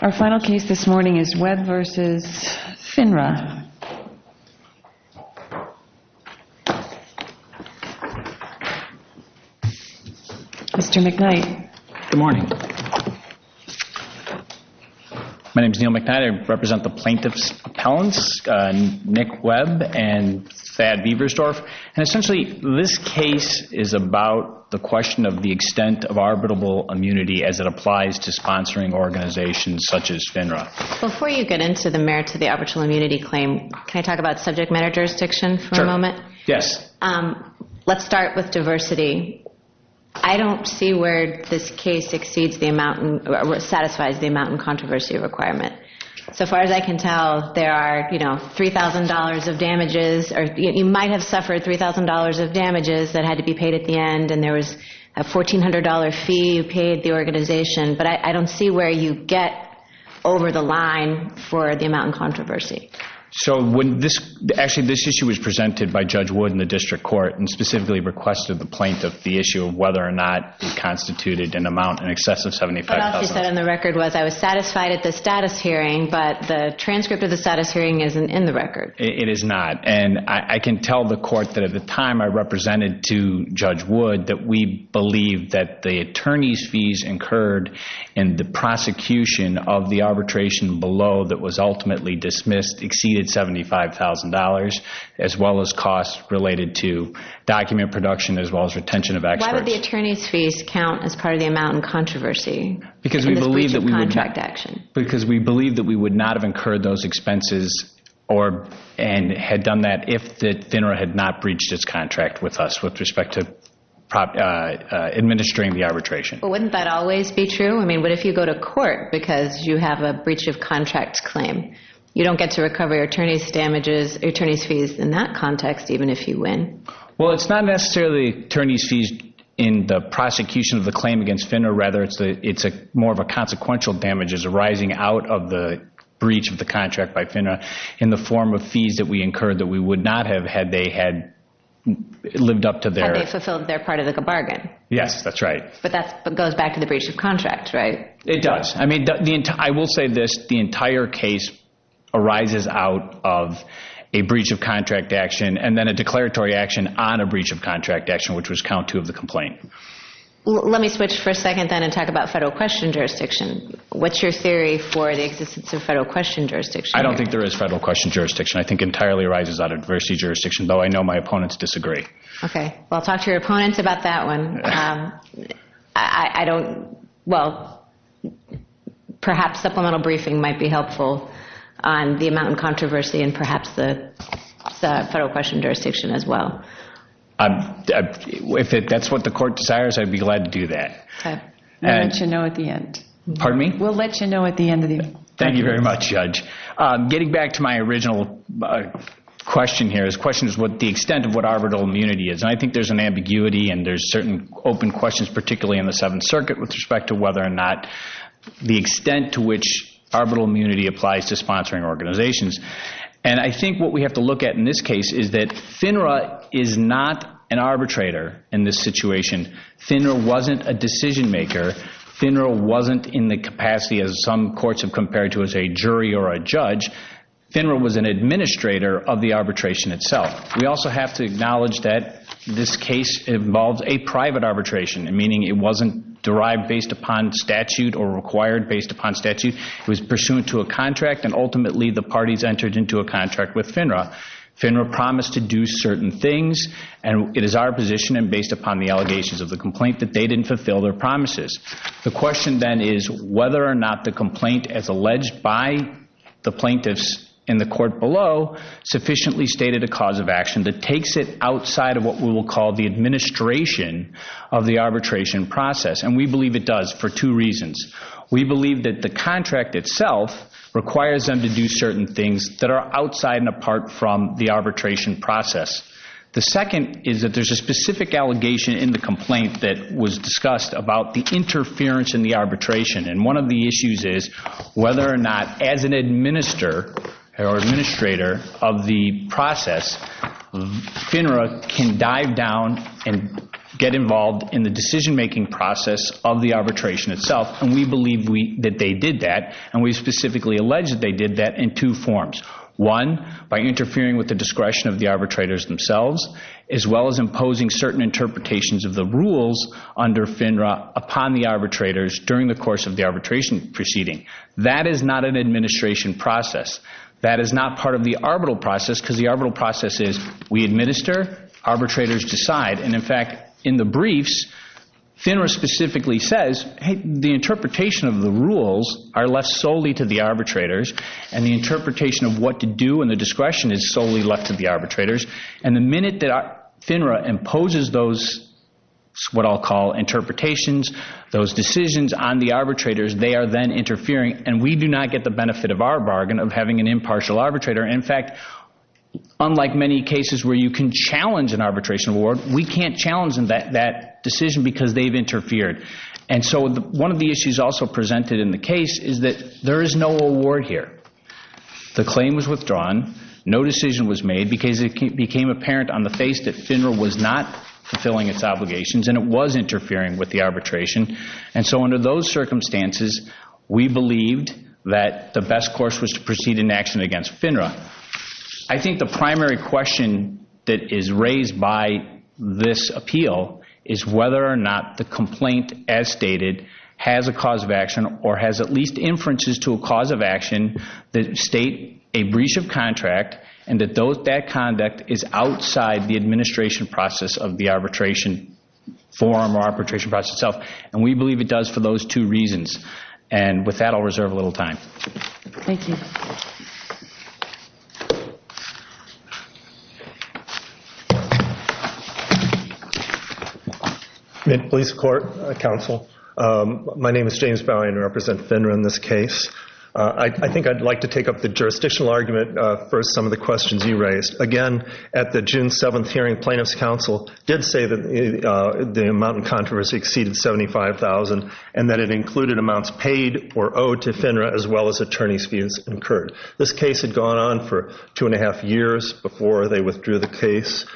Our final case this morning is Webb v. FINRA. Mr. McKnight. Good morning. My name is Neil McKnight. I represent the plaintiff's appellants, Nick Webb and Thad Beversdorf. Essentially, this case is about the question of the extent of arbitrable immunity as it applies to sponsoring organizations such as FINRA. Before you get into the merits of the arbitral immunity claim, can I talk about subject matter jurisdiction for a moment? Sure. Yes. Let's start with diversity. I don't see where this case satisfies the amount and controversy requirement. As far as I can tell, you might have suffered $3,000 of damages that had to be paid at the end, and there was a $1,400 fee you paid the organization. But I don't see where you get over the line for the amount and controversy. Actually, this issue was presented by Judge Wood in the district court and specifically requested the plaintiff the issue of whether or not it constituted an amount in excess of $75,000. What else you said on the record was, I was satisfied at the status hearing, but the transcript of the status hearing isn't in the record. It is not, and I can tell the court that at the time I represented to Judge Wood that we believe that the attorney's fees incurred in the prosecution of the arbitration below that was ultimately dismissed exceeded $75,000, as well as costs related to document production as well as retention of experts. Why would the attorney's fees count as part of the amount and controversy in this breach of contract action? Because we believe that we would not have incurred those expenses and had done that if the FINRA had not breached its contract with us with respect to administering the arbitration. But wouldn't that always be true? I mean, what if you go to court because you have a breach of contract claim? You don't get to recover your attorney's fees in that context even if you win. Well, it's not necessarily attorney's fees in the prosecution of the claim against FINRA. Rather, it's more of a consequential damages arising out of the breach of the contract by FINRA in the form of fees that we incurred that we would not have had they had lived up to their… Had they fulfilled their part of the bargain. Yes, that's right. But that goes back to the breach of contract, right? It does. I mean, I will say this. The entire case arises out of a breach of contract action and then a declaratory action on a breach of contract action, which was count two of the complaint. Let me switch for a second then and talk about federal question jurisdiction. What's your theory for the existence of federal question jurisdiction? I don't think there is federal question jurisdiction. I think it entirely arises out of diversity jurisdiction, though I know my opponents disagree. Okay. Well, talk to your opponents about that one. I don't… Well, perhaps supplemental briefing might be helpful on the amount of controversy and perhaps the federal question jurisdiction as well. If that's what the court desires, I'd be glad to do that. We'll let you know at the end. Pardon me? We'll let you know at the end of the… Thank you very much, Judge. Getting back to my original question here, this question is what the extent of what arbitral immunity is. And I think there's an ambiguity and there's certain open questions, particularly in the Seventh Circuit with respect to whether or not the extent to which arbitral immunity applies to sponsoring organizations. And I think what we have to look at in this case is that FINRA is not an arbitrator in this situation. FINRA wasn't a decision maker. FINRA wasn't in the capacity as some courts have compared to as a jury or a judge. FINRA was an administrator of the arbitration itself. We also have to acknowledge that this case involves a private arbitration, meaning it wasn't derived based upon statute or required based upon statute. It was pursuant to a contract and ultimately the parties entered into a contract with FINRA. FINRA promised to do certain things, and it is our position and based upon the allegations of the complaint that they didn't fulfill their promises. The question then is whether or not the complaint as alleged by the plaintiffs in the court below sufficiently stated a cause of action that takes it outside of what we will call the administration of the arbitration process. And we believe it does for two reasons. We believe that the contract itself requires them to do certain things that are outside and apart from the arbitration process. The second is that there's a specific allegation in the complaint that was discussed about the interference in the arbitration. And one of the issues is whether or not as an administrator of the process, FINRA can dive down and get involved in the decision making process of the arbitration itself. And we believe that they did that, and we specifically allege that they did that in two forms. One, by interfering with the discretion of the arbitrators themselves, as well as imposing certain interpretations of the rules under FINRA upon the arbitrators during the course of the arbitration proceeding. That is not an administration process. That is not part of the arbitral process because the arbitral process is we administer, arbitrators decide. And in fact, in the briefs, FINRA specifically says, hey, the interpretation of the rules are left solely to the arbitrators. And the interpretation of what to do and the discretion is solely left to the arbitrators. And the minute that FINRA imposes those what I'll call interpretations, those decisions on the arbitrators, they are then interfering. And we do not get the benefit of our bargain of having an impartial arbitrator. In fact, unlike many cases where you can challenge an arbitration award, we can't challenge that decision because they've interfered. And so one of the issues also presented in the case is that there is no award here. The claim was withdrawn. No decision was made because it became apparent on the face that FINRA was not fulfilling its obligations and it was interfering with the arbitration. And so under those circumstances, we believed that the best course was to proceed in action against FINRA. I think the primary question that is raised by this appeal is whether or not the complaint as stated has a cause of action or has at least inferences to a cause of action that state a breach of contract and that that conduct is outside the administration process of the arbitration forum or arbitration process itself. And we believe it does for those two reasons. And with that, I'll reserve a little time. Thank you. Police Court Counsel, my name is James Bowen. I represent FINRA in this case. I think I'd like to take up the jurisdictional argument for some of the questions you raised. Again, at the June 7th hearing, plaintiff's counsel did say that the amount in controversy exceeded $75,000 and that it included amounts paid or owed to FINRA as well as attorney's fees incurred. This case had gone on for two and a half years before they withdrew the case.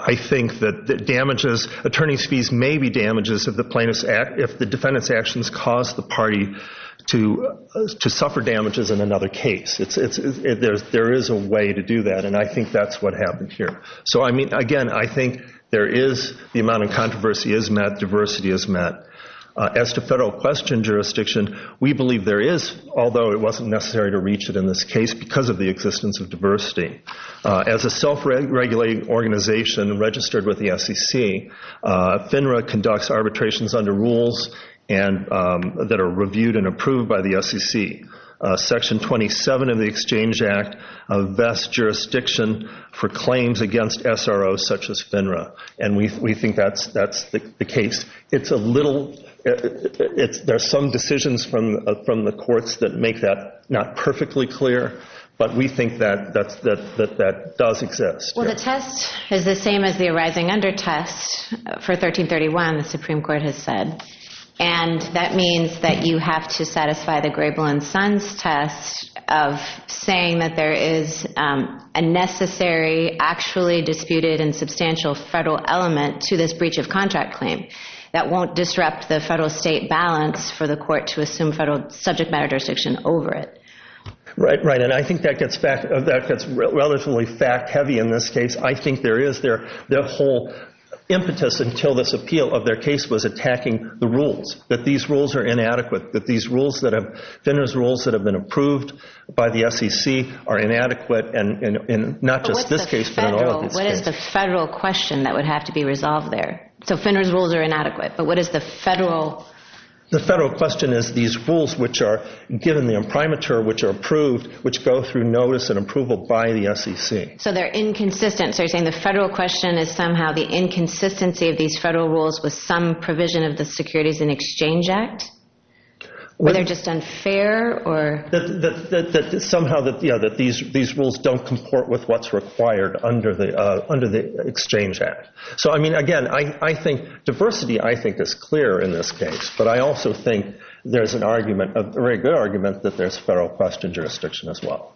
I think that damages, attorney's fees may be damages if the defendant's actions caused the party to suffer damages in another case. There is a way to do that, and I think that's what happened here. So, again, I think there is the amount of controversy is met, diversity is met. As to federal question jurisdiction, we believe there is, although it wasn't necessary to reach it in this case, because of the existence of diversity. As a self-regulating organization registered with the SEC, FINRA conducts arbitrations under rules that are reviewed and approved by the SEC. Section 27 of the Exchange Act vests jurisdiction for claims against SROs such as FINRA, and we think that's the case. There are some decisions from the courts that make that not perfectly clear, but we think that that does exist. Well, the test is the same as the arising under test for 1331, the Supreme Court has said, and that means that you have to satisfy the Grable and Sons test of saying that there is a necessary, actually disputed and substantial federal element to this breach of contract claim that won't disrupt the federal-state balance for the court to assume federal subject matter jurisdiction over it. Right, right, and I think that gets relatively fact-heavy in this case. I think there is the whole impetus until this appeal of their case was attacking the rules, that these rules are inadequate, that FINRA's rules that have been approved by the SEC are inadequate, and not just this case, but in all of these cases. What is the federal question that would have to be resolved there? So FINRA's rules are inadequate, but what is the federal? The federal question is these rules which are given the imprimatur, which are approved, which go through notice and approval by the SEC. So they're inconsistent. So you're saying the federal question is somehow the inconsistency of these federal rules with some provision of the Securities and Exchange Act? They're just unfair? Somehow that these rules don't comport with what's required under the Exchange Act. So, I mean, again, I think diversity, I think, is clear in this case, but I also think there's a very good argument that there's federal question jurisdiction as well.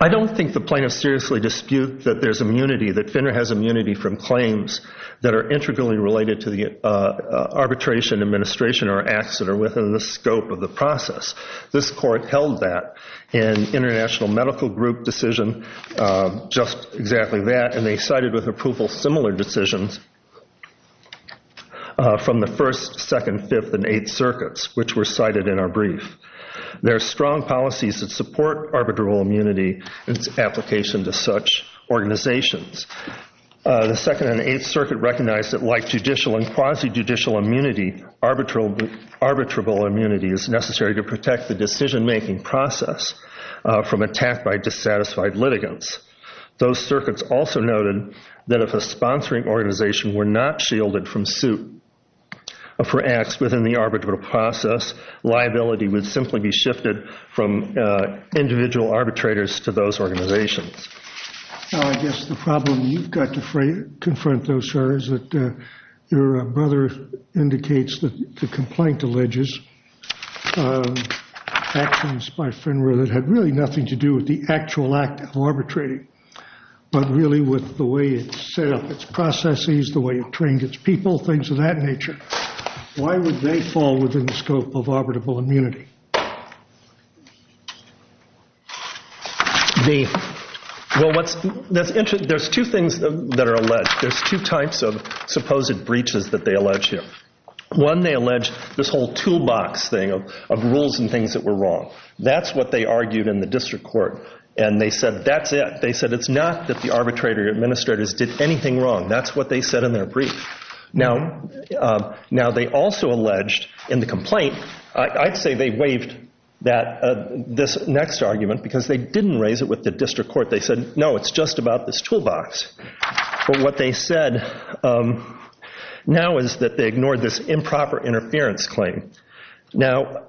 I don't think the plaintiffs seriously dispute that there's immunity, that FINRA has immunity from claims that are intricately related to the arbitration, administration, or acts that are within the scope of the process. This court held that in International Medical Group decision, just exactly that, and they cited with approval similar decisions from the First, Second, Fifth, and Eighth Circuits, which were cited in our brief. There are strong policies that support arbitrable immunity and its application to such organizations. The Second and Eighth Circuit recognized that like judicial and quasi-judicial immunity, arbitrable immunity is necessary to protect the decision-making process from attack by dissatisfied litigants. Those circuits also noted that if a sponsoring organization were not shielded from suit for acts within the arbitral process, liability would simply be shifted from individual arbitrators to those organizations. I guess the problem you've got to confront though, sir, is that your brother indicates that the complaint alleges actions by FINRA that had really nothing to do with the actual act of arbitrating, but really with the way it set up its processes, the way it trained its people, things of that nature. Why would they fall within the scope of arbitrable immunity? Well, there's two things that are alleged. There's two types of supposed breaches that they allege here. One, they allege this whole toolbox thing of rules and things that were wrong. That's what they argued in the district court, and they said that's it. They said it's not that the arbitrator or administrators did anything wrong. That's what they said in their brief. Now, they also alleged in the complaint, I'd say they believe, that they waived this next argument because they didn't raise it with the district court. They said, no, it's just about this toolbox. But what they said now is that they ignored this improper interference claim. Now,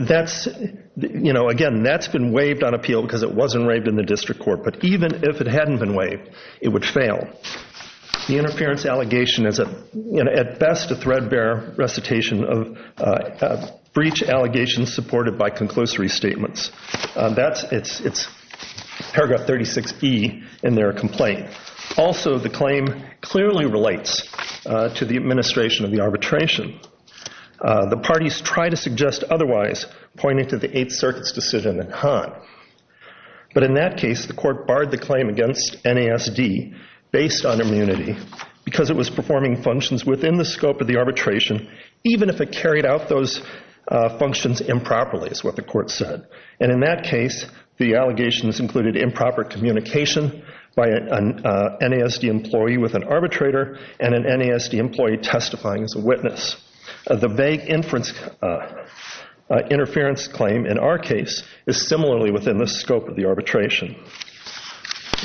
again, that's been waived on appeal because it wasn't waived in the district court, but even if it hadn't been waived, it would fail. The interference allegation is at best a threadbare recitation of breach allegations supported by conclusory statements. It's paragraph 36E in their complaint. Also, the claim clearly relates to the administration of the arbitration. The parties try to suggest otherwise, pointing to the Eighth Circuit's decision in Hahn. But in that case, the court barred the claim against NASD based on immunity because it was performing functions within the scope of the arbitration, even if it carried out those functions improperly, is what the court said. And in that case, the allegations included improper communication by an NASD employee with an arbitrator and an NASD employee testifying as a witness. The vague interference claim in our case is similarly within the scope of the arbitration.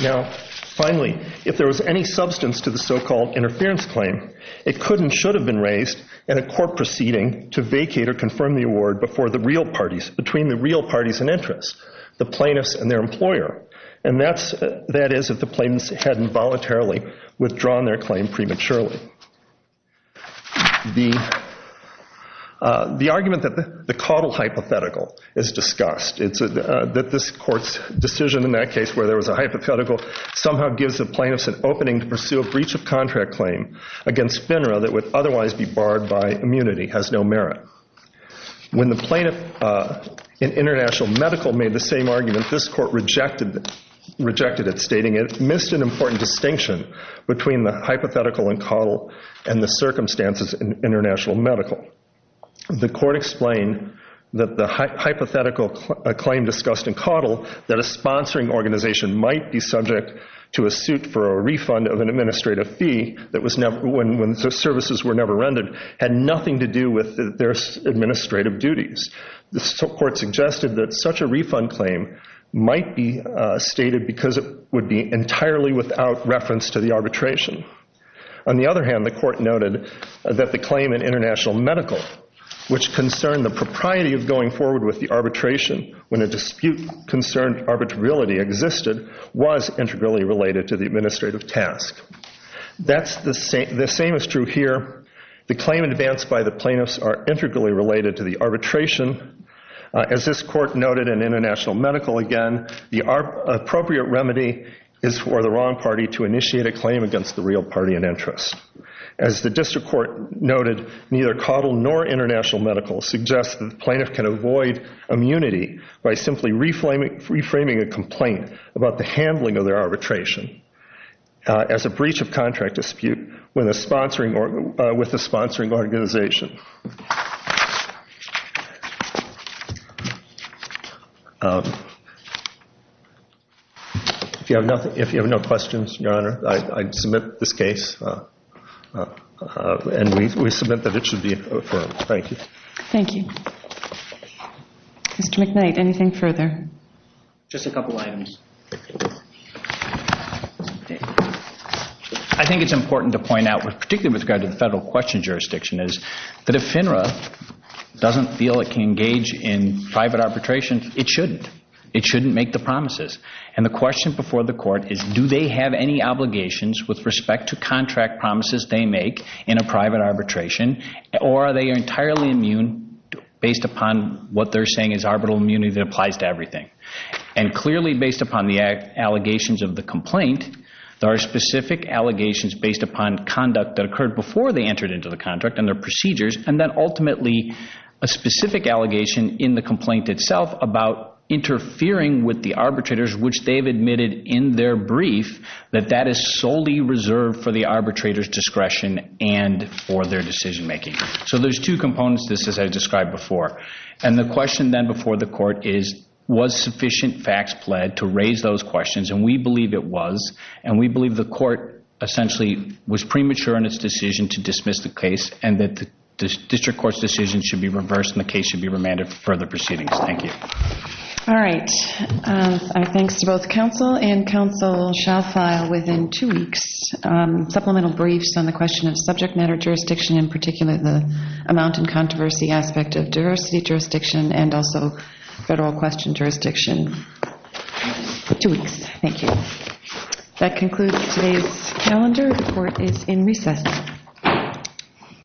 Now, finally, if there was any substance to the so-called interference claim, it could and should have been raised in a court proceeding to vacate or confirm the award between the real parties in interest, the plaintiffs and their employer. And that is if the plaintiffs hadn't voluntarily withdrawn their claim prematurely. The argument that the Caudill hypothetical is discussed, that this court's decision in that case where there was a hypothetical somehow gives the plaintiffs an opening to pursue a breach of contract claim against FINRA that would otherwise be barred by immunity, has no merit. When the plaintiff in International Medical made the same argument, this court rejected it, stating it missed an important distinction between the hypothetical in Caudill and the circumstances in International Medical. The court explained that the hypothetical claim discussed in Caudill, that a sponsoring organization might be subject to a suit for a refund of an administrative fee when services were never rendered, had nothing to do with their administrative duties. The court suggested that such a refund claim might be stated because it would be entirely without reference to the arbitration. On the other hand, the court noted that the claim in International Medical, which concerned the propriety of going forward with the arbitration when a dispute concerned arbitrarility existed, was integrally related to the administrative task. The same is true here. The claim advanced by the plaintiffs are integrally related to the arbitration. As this court noted in International Medical again, the appropriate remedy is for the wrong party to initiate a claim against the real party in interest. As the district court noted, neither Caudill nor International Medical suggests that the plaintiff can avoid immunity by simply reframing a complaint about the handling of their arbitration as a breach of contract dispute with a sponsoring organization. If you have no questions, Your Honor, I submit this case. And we submit that it should be affirmed. Thank you. Thank you. Mr. McKnight, anything further? Just a couple items. I think it's important to point out, particularly with regard to the federal question jurisdiction, is that if FINRA doesn't feel it can engage in private arbitration, it shouldn't. It shouldn't make the promises. And the question before the court is, do they have any obligations with respect to contract promises they make in a private arbitration, or are they entirely immune based upon what they're saying is arbitral immunity that applies to everything? And clearly, based upon the allegations of the complaint, there are specific allegations based upon conduct that occurred before they entered into the contract and their procedures, and then ultimately a specific allegation in the complaint itself about interfering with the arbitrators, which they've admitted in their brief that that is solely reserved for the arbitrator's discretion and for their decision making. So there's two components to this, as I described before. And the question then before the court is, was sufficient facts pled to raise those questions? And we believe it was, and we believe the court essentially was premature in its decision to dismiss the case and that the district court's decision should be reversed and the case should be remanded for further proceedings. Thank you. All right. Our thanks to both counsel and counsel shall file within two weeks supplemental briefs on the question of subject matter jurisdiction, in particular the amount and controversy aspect of diversity jurisdiction and also federal question jurisdiction. Two weeks. Thank you. That concludes today's calendar. The court is in recess.